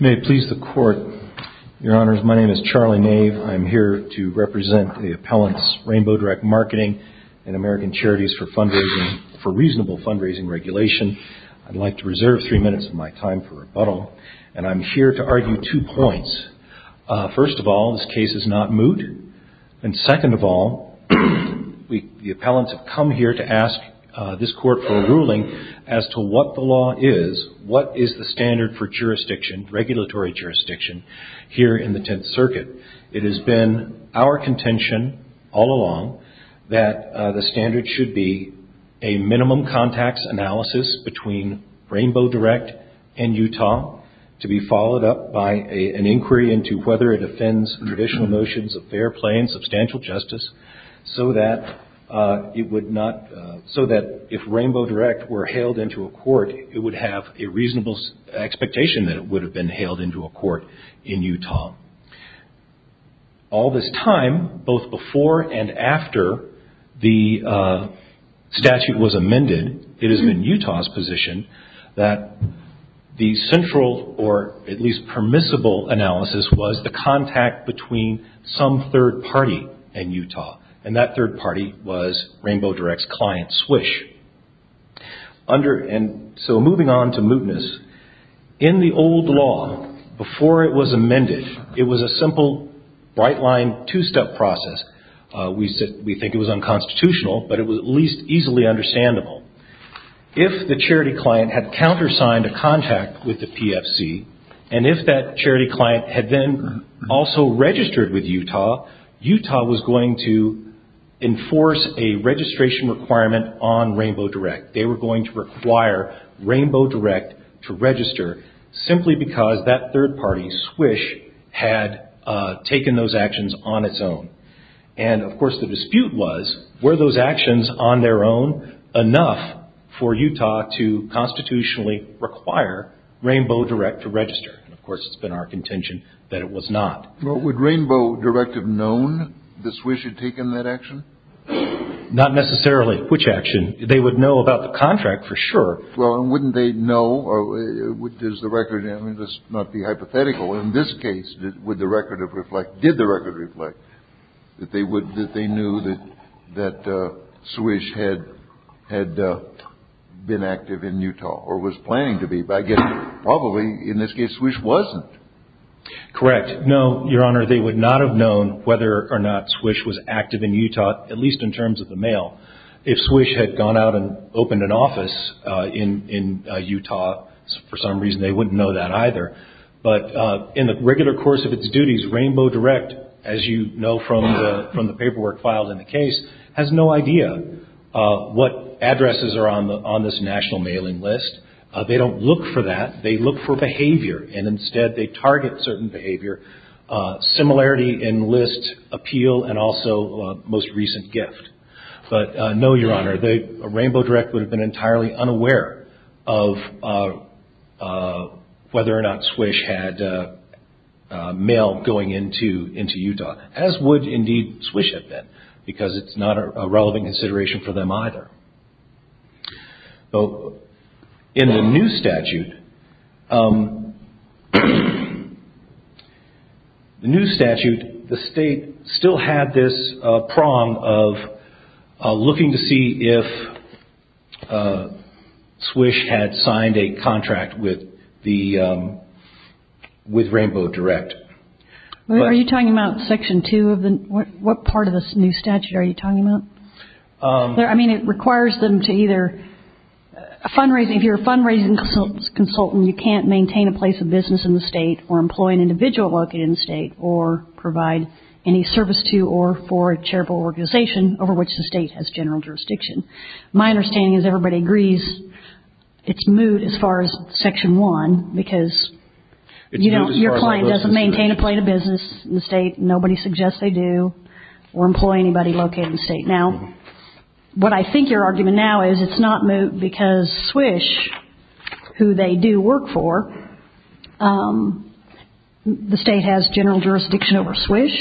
May it please the Court, Your Honors, my name is Charlie Nave. I'm here to represent the appellants Rainbow Direct Marketing and American Charities for Reasonable Fundraising Regulations. I'd like to reserve three minutes of my time for rebuttal, and I'm here to argue two points. First of all, this case is not moot. And second of all, the appellants have come here to ask this Court for a ruling as to what the law is, what is the standard for jurisdiction, regulatory jurisdiction, here in the Tenth Circuit. It has been our contention all along that the standard should be a minimum contacts analysis between Rainbow Direct and Utah to be followed up by an inquiry into whether it offends traditional notions of fair play and substantial justice, so that if Rainbow Direct were hailed into a court, it would have a reasonable expectation that it would have been hailed into a court in Utah. All this time, both before and after the statute was amended, it has been Utah's position that the central or at least permissible analysis was the contact between some third party and Utah, and that third party was Rainbow Direct's client, Swish. So moving on to mootness, in the old law, before it was amended, it was a simple bright line two-step process. We think it was unconstitutional, but it was at least easily understandable. If the charity client had countersigned a contact with the PFC, and if that charity client had then also registered with Utah, Utah was going to enforce a registration requirement on Rainbow Direct. They were going to require Rainbow Direct to register, simply because that third party, Swish, had taken those actions on its own. Of course, the dispute was, were those actions on their own enough for Utah to constitutionally require Rainbow Direct to register? Of course, it's been our contention that it was not. Well, would Rainbow Direct have known that Swish had taken that action? Not necessarily. Which action? They would know about the contract, for sure. Well, and wouldn't they know, or does the record, I mean, let's not be hypothetical. In this case, did the record reflect that they knew that Swish had been active in Utah, or was planning to be? I guess, probably, in this case, Swish wasn't. Correct. No, Your Honor, they would not have known whether or not Swish was active in Utah, at least in terms of the mail. If Swish had gone out and opened an office in Utah, for some reason, they wouldn't know that, either. But, in the regular course of its duties, Rainbow Direct, as you know from the paperwork files in the case, has no idea what addresses are on this national mailing list. They don't look for that. They look for behavior, and instead, they target certain behavior. Similarity in list appeal, and also most recent gift. But no, Your Honor, Rainbow Direct would have been entirely unaware of whether or not Swish had mail going into Utah, as would, indeed, Swish have been, because it's not a relevant consideration for them, either. In the new statute, the new statute, the state still had this prong of, you know, the state looking to see if Swish had signed a contract with Rainbow Direct. Are you talking about Section 2? What part of this new statute are you talking about? It requires them to either, if you're a fundraising consultant, you can't maintain a place of business in the state, or employ an individual located in the state, or provide any service to or for a charitable organization over which the state has general jurisdiction. My understanding is everybody agrees it's moot as far as Section 1, because your client doesn't maintain a place of business in the state, nobody suggests they do, or employ anybody located in the state. Now, what I think your argument now is, it's not moot because Swish, who they do work for, the state has general jurisdiction over Swish.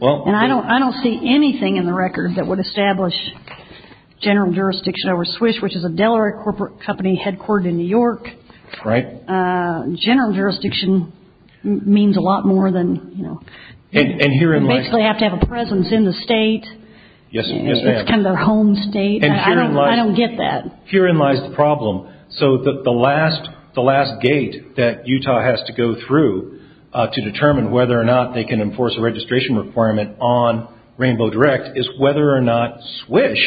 I don't see anything in the record that would establish general jurisdiction over Swish, which is a Delaware corporate company headquartered in New York. General jurisdiction means a lot more than, you know, you basically have to have a presence in the state. Yes, ma'am. It's kind of their home state. I don't get that. Herein lies the problem. So, the last gate that Utah has to go through to determine whether or not they can enforce a registration requirement on Rainbow Direct is whether or not Swish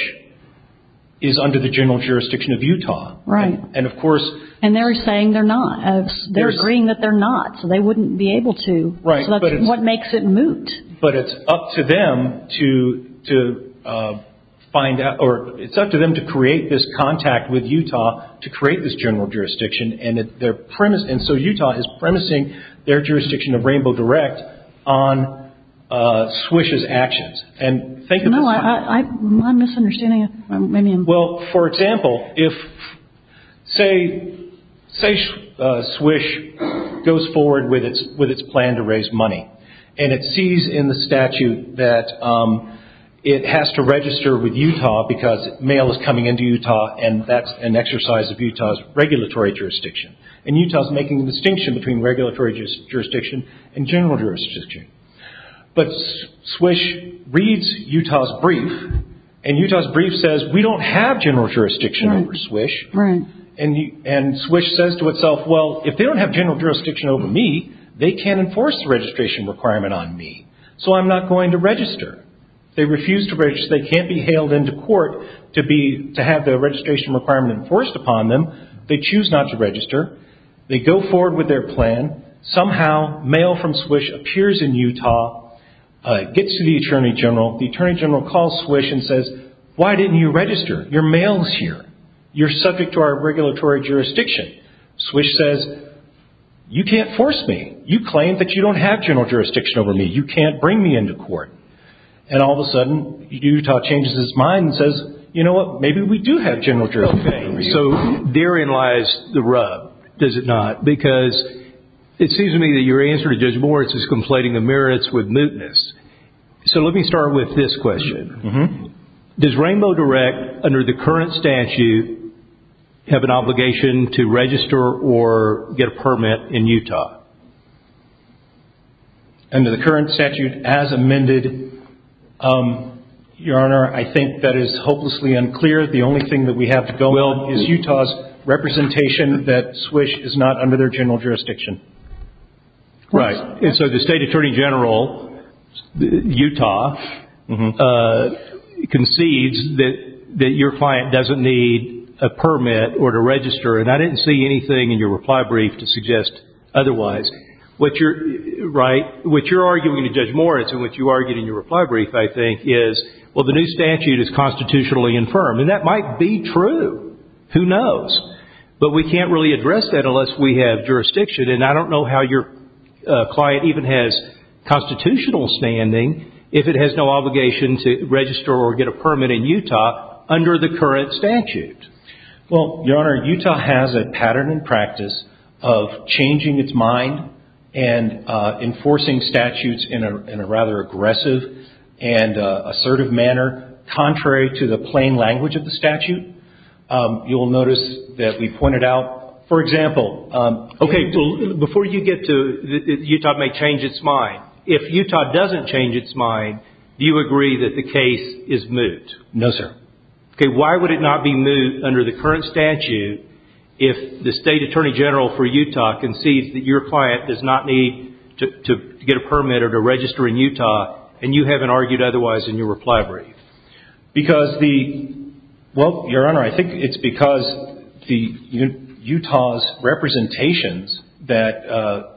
is under the general jurisdiction of Utah. Right. And of course... And they're saying they're not. They're agreeing that they're not, so they wouldn't be able to. What makes it moot? But it's up to them to find out, or it's up to them to create this contact with Utah to create this general jurisdiction, and so Utah is premising their jurisdiction of Rainbow Direct on Swish's actions. And think of the... No, I'm misunderstanding. Well, for example, if, say, Swish goes forward with its plan to raise money, and it sees in the statute that it has to register with Utah because mail is coming into Utah, and that's an exercise of Utah's regulatory jurisdiction. And Utah's making the distinction between general jurisdiction. But Swish reads Utah's brief, and Utah's brief says, we don't have general jurisdiction over Swish, and Swish says to itself, well, if they don't have general jurisdiction over me, they can't enforce the registration requirement on me, so I'm not going to register. They refuse to register. They can't be hailed into court to have the registration requirement enforced upon them. They choose not to register. They go forward with their plan. Somehow, mail from Swish appears in Utah, gets to the Attorney General. The Attorney General calls Swish and says, why didn't you register? Your mail's here. You're subject to our regulatory jurisdiction. Swish says, you can't force me. You claim that you don't have general jurisdiction over me. You can't bring me into court. And all of a sudden, Utah changes its mind and says, you know what? Maybe we do have general jurisdiction over you. So therein lies the rub, does it not? Because it seems to me that your answer to Judge Moritz is conflating the merits with mootness. So let me start with this question. Does Rainbow Direct under the current statute have an obligation to register or get a permit in Utah? Under the current statute as amended, Your Honor, I think that is hopelessly unclear. The only thing that we have to go with is Utah's representation that Swish is not under their general jurisdiction. Right. And so the State Attorney General, Utah, concedes that your client doesn't need a permit or to register. And I didn't see anything in your reply brief to suggest otherwise. What you're arguing to Judge Moritz and what you argued in your reply brief, I think, is the new statute is constitutionally infirmed. And that might be true. Who knows? But we can't really address that unless we have jurisdiction. And I don't know how your client even has constitutional standing if it has no obligation to register or get a permit in Utah under the current statute. Well, Your Honor, Utah has a pattern and practice of changing its mind and enforcing statutes in a rather aggressive and assertive manner, contrary to the plain language of the statute. You will notice that we pointed out, for example... Okay. Before you get to Utah may change its mind, if Utah doesn't change its mind, do you agree that the case is moot? No, sir. Why would it not be moot under the current statute if the State Attorney General for a register in Utah, and you haven't argued otherwise in your reply brief? Because the... Well, Your Honor, I think it's because Utah's representations that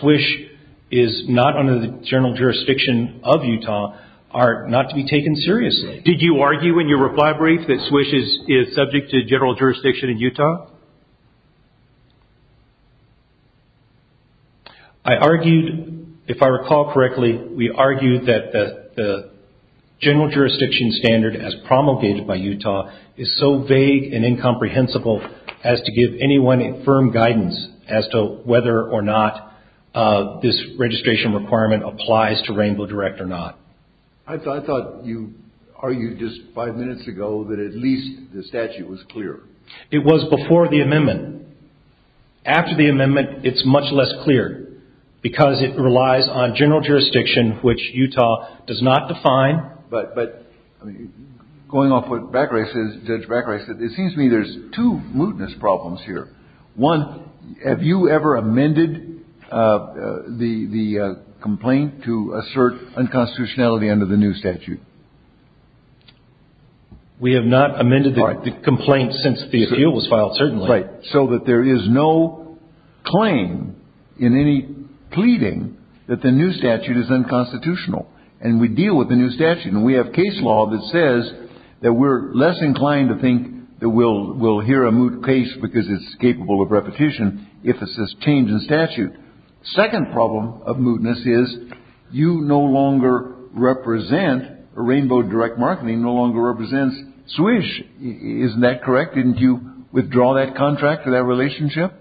SWISH is not under the general jurisdiction of Utah are not to be taken seriously. Did you argue in your reply brief that SWISH is subject to general jurisdiction in Utah? I argued, if I recall correctly, we argued that the general jurisdiction standard as promulgated by Utah is so vague and incomprehensible as to give anyone a firm guidance as to whether or not this registration requirement applies to Rainbow Direct or not. I thought you argued just five minutes ago that at least the statute was clear. It was before the amendment. After the amendment, it's much less clear, because it relies on general jurisdiction, which Utah does not define, but... Going off what Judge Brackerey said, it seems to me there's two mootness problems here. One, have you ever amended the complaint to assert unconstitutionality under the new statute? We have not amended the complaint since the appeal was filed, certainly. So that there is no claim in any pleading that the new statute is unconstitutional, and we deal with the new statute, and we have case law that says that we're less inclined to think that we'll hear a moot case because it's capable of repetition if it's a change in statute. Second problem of mootness is you no longer represent, Rainbow Direct Marketing no longer represents SWISH. Isn't that correct? Didn't you withdraw that contract for that relationship?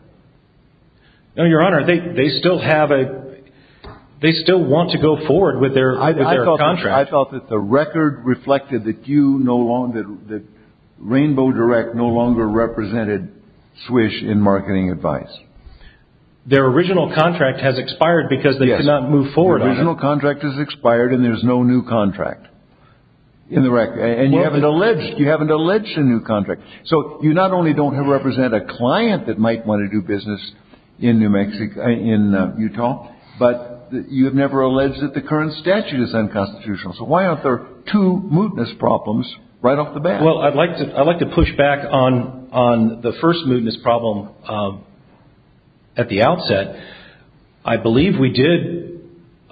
No, Your Honor. They still have a... They still want to go forward with their contract. I thought that the record reflected that you no longer... that Rainbow Direct no longer represented SWISH in marketing advice. Their original contract has expired because they could not move forward. Their original contract has expired, and there's no new contract in the record. And you haven't alleged a new contract. So you not only don't represent a client that might want to do business in Utah, but you have never alleged that the current statute is unconstitutional. So why aren't there two mootness problems right off the bat? Well, I'd like to push back on the first mootness problem at the outset. I believe we did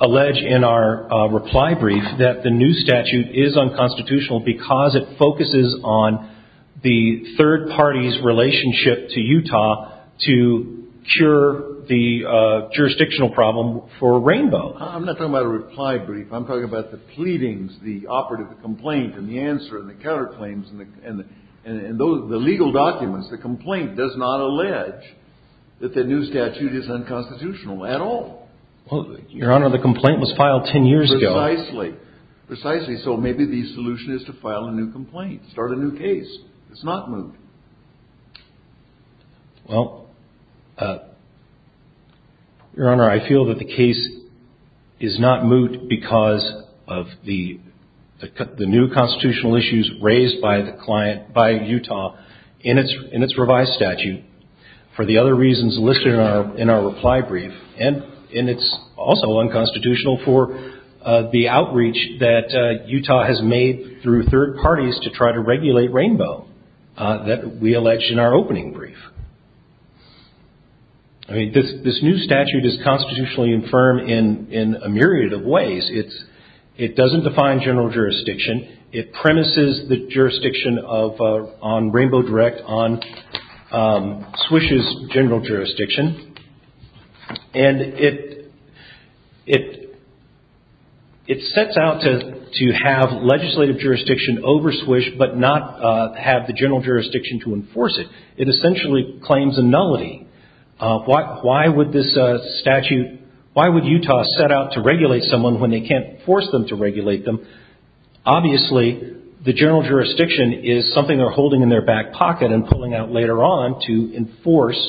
allege in our reply brief that the new statute is unconstitutional because it focuses on the third party's relationship to Utah to cure the jurisdictional problem for Rainbow. I'm not talking about a reply brief. I'm talking about the pleadings, the operative complaint, and the answer, and the counterclaims, and the legal documents. The complaint does not allege that the new statute is unconstitutional at all. Well, Your Honor, the complaint was filed ten years ago. Precisely. Precisely. So maybe the solution is to file a new complaint, start a new case. It's not moot. Well, Your Honor, I feel that the case is not moot because of the new constitutional issues raised by the client, by Utah, in its revised statute, for the other reasons listed in our reply brief. And it's also unconstitutional for the outreach that Utah has made through third parties to try to regulate Rainbow that we allege in our opening brief. This new statute is constitutionally infirm in a myriad of ways. It doesn't define general jurisdiction. It premises the jurisdiction on Rainbow Direct on SWISH's general jurisdiction. And it sets out to have legislative jurisdiction over SWISH but not have the general jurisdiction to enforce it. It essentially claims a nullity. Why would this statute, why would Utah set out to regulate someone when they can't force them to regulate them? Obviously, the general jurisdiction is something they're holding in their back pocket and pulling out later on to enforce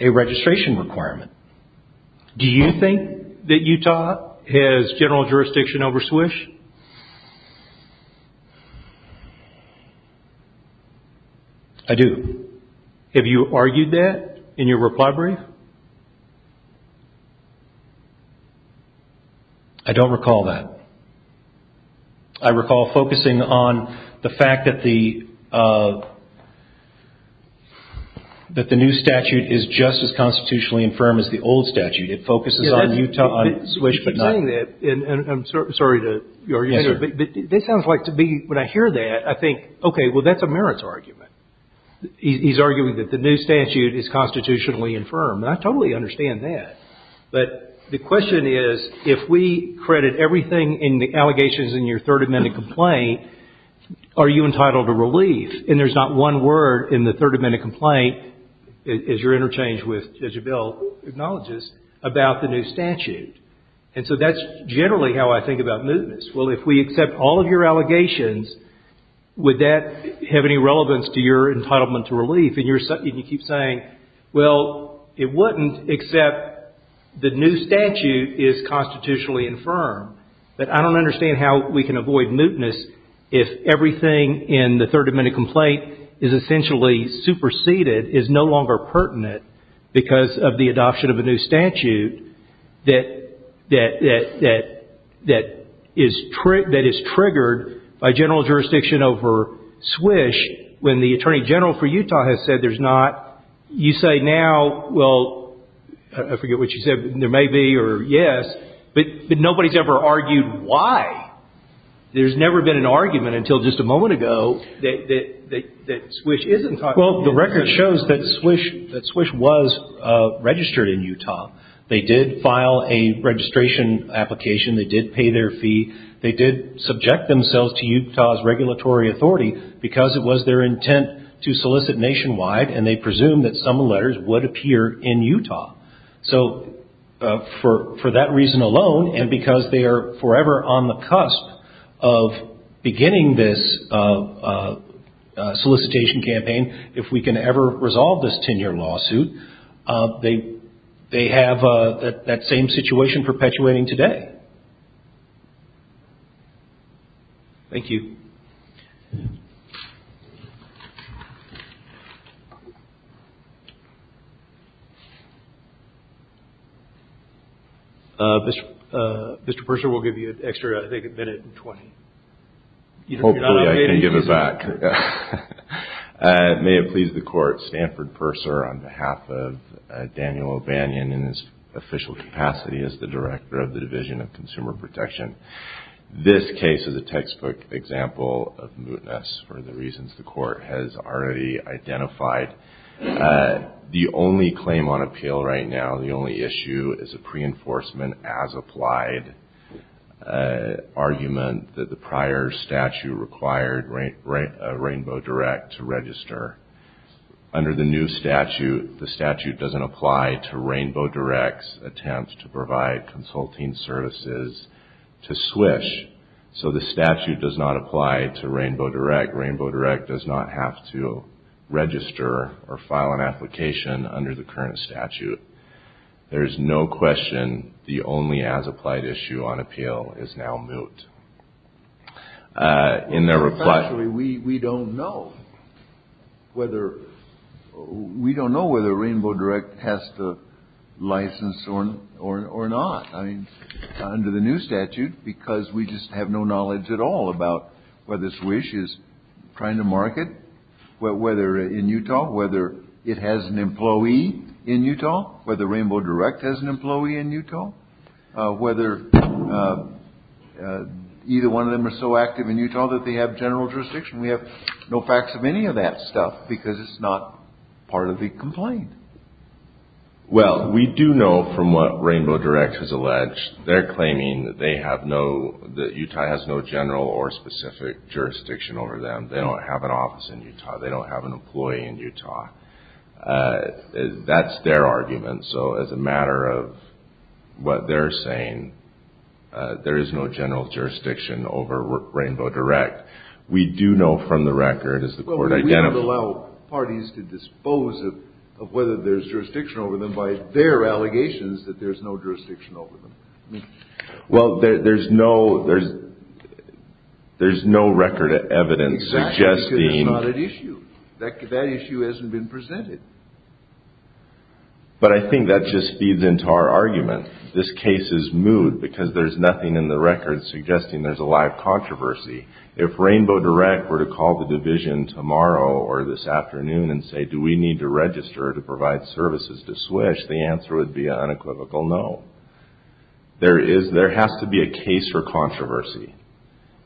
a registration requirement. Do you think that Utah has general jurisdiction over SWISH? I do. Have you argued that in your reply brief? I don't recall that. I recall focusing on the fact that the new statute is just as constitutionally infirm as the old statute. It focuses on Utah, on SWISH but not... You keep saying that. I'm sorry to your argumenter, but it sounds like to me, when I hear that, I think, okay, well, that's a merits argument. He's arguing that the new statute is constitutionally infirm. I totally understand that. But the question is, if we credit everything in the complaint, are you entitled to relief? And there's not one word in the 30-minute complaint, as you're interchanged with, as your bill acknowledges, about the new statute. And so that's generally how I think about mootness. Well, if we accept all of your allegations, would that have any relevance to your entitlement to relief? And you keep saying, well, it wouldn't except the new statute is constitutionally infirm. But I don't understand how we can avoid mootness if everything in the 30-minute complaint is essentially superseded, is no longer pertinent because of the adoption of a new statute that is triggered by general jurisdiction over SWISH, when the Attorney General for Utah has said there's not. You say now, well, I forget what you said, there may be or yes, but nobody's ever argued why there's never been an argument until just a moment ago that SWISH isn't. Well, the record shows that SWISH was registered in Utah. They did file a registration application. They did pay their fee. They did subject themselves to Utah's regulatory authority because it was their intent to solicit nationwide. And they presumed that some letters would appear in Utah. So for that reason alone, and because they are forever on the cusp of beginning this solicitation campaign, if we can ever resolve this 10-year lawsuit, they have that same situation perpetuating today. Thank you. Mr. Purser, we'll give you an extra, I think, a minute and 20. Hopefully, I can give it back. May it please the Court, Stanford Purser, on behalf of Daniel O'Banion in his official capacity as the Director of the Division of Consumer Protection. This case is a textbook example of mootness for the reasons the Court has already identified. The only claim on appeal right now, the only issue is a pre-enforcement as applied argument that the prior statute required Rainbow Direct to register. Under the new statute, the statute doesn't apply to Rainbow Direct's attempt to provide consulting services to SWISH. So the statute does not apply to Rainbow Direct. Rainbow Direct does not have to register or file an application under the current statute. There is no question the only as applied issue on appeal is now moot. Actually, we don't know whether Rainbow Direct has to license or not under the new statute because we just have no knowledge at all about whether SWISH is trying to market, whether in Utah, whether it has an employee in Utah, whether Rainbow Direct has an employee in Utah, whether either one of them are so active in Utah that they have general jurisdiction. We have no facts of any of that stuff because it's not part of the complaint. Well, we do know from what Rainbow Direct has alleged, they're claiming that they have no, that Utah has no general or specific jurisdiction over them. They don't have an office in Utah. They don't have an employee in Utah. That's their argument. So as a matter of what they're saying, there is no general jurisdiction over Rainbow Direct. We do know from the record, as the court identified- Well, we don't allow parties to dispose of whether there's jurisdiction over them by their allegations that there's no jurisdiction over them. Well, there's no record of evidence suggesting- Exactly, because it's not an issue. That issue hasn't been presented. But I think that just feeds into our argument. This case is moot because there's nothing in the record suggesting there's a live controversy. If Rainbow Direct were to call the division tomorrow or this afternoon and say, do we need to register to provide services to SWISH? The answer would be an unequivocal no. There has to be a case for controversy.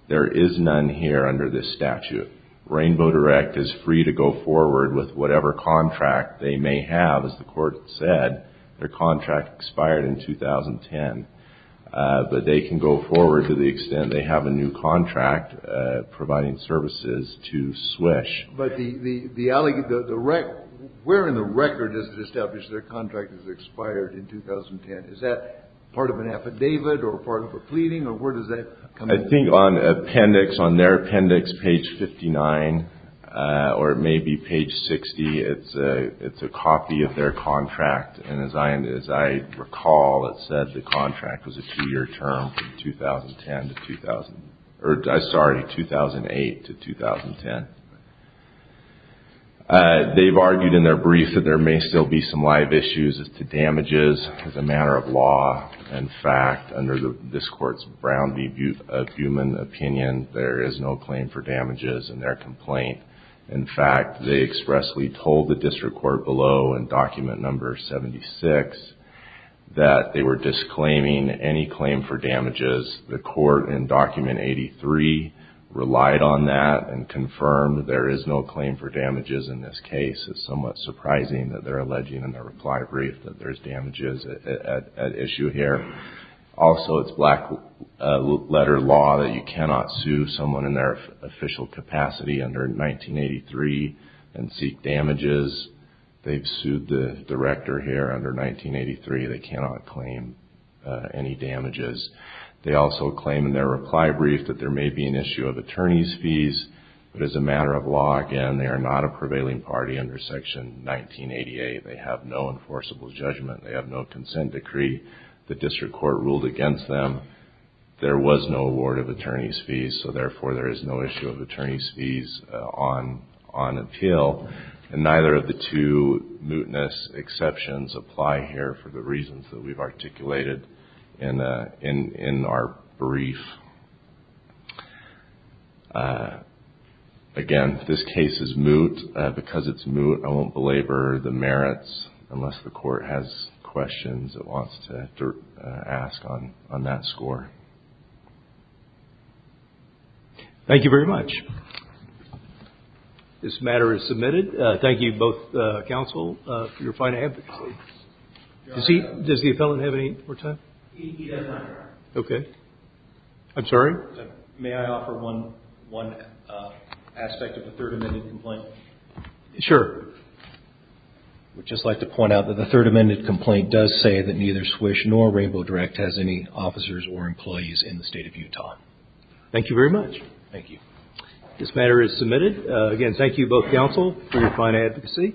There is none here under this statute. Rainbow Direct is free to go forward with whatever contract they may have, as the court said. Their contract expired in 2010. But they can go forward to the extent they have a new contract providing services to SWISH. But where in the record does it establish their contract has expired in 2010? Is that part of an affidavit or part of a pleading, or where does that come in? I think on appendix, on their appendix, page 59, or maybe page 60, it's a copy of their contract. And as I recall, it said the contract was a two-year term from 2008 to 2010. They've argued in their brief that there may still be some live damages as a matter of law. In fact, under this court's Brown v. Buhman opinion, there is no claim for damages in their complaint. In fact, they expressly told the district court below in document number 76 that they were disclaiming any claim for damages. The court in document 83 relied on that and confirmed there is no claim for damages in this case. It's somewhat surprising that they're alleging in their reply brief that there's damages at issue here. Also, it's black-letter law that you cannot sue someone in their official capacity under 1983 and seek damages. They've sued the director here under 1983. They cannot claim any damages. They also claim in their reply brief that there may be an issue of attorney's fees. But as a matter of law, again, they are not a prevailing party under section 1988. They have no enforceable judgment. They have no consent decree. The district court ruled against them. There was no award of attorney's fees. So therefore, there is no issue of attorney's fees on appeal. And neither of the two mootness exceptions apply here for the reasons that we've articulated in our brief. Again, this case is moot. Because it's moot, I won't belabor the merits unless the court has questions it wants to ask on that score. Thank you very much. This matter is submitted. Thank you both, counsel, for your fine advocacy. Does the appellant have any more time? He does not, Your Honor. Okay. I'm sorry? May I offer one aspect of the third amended complaint? Sure. I would just like to point out that the third amended complaint does say that neither SWISH nor Rainbow Direct has any officers or employees in the state of Utah. Thank you very much. Thank you. This matter is submitted. Again, thank you both, counsel, for your fine advocacy.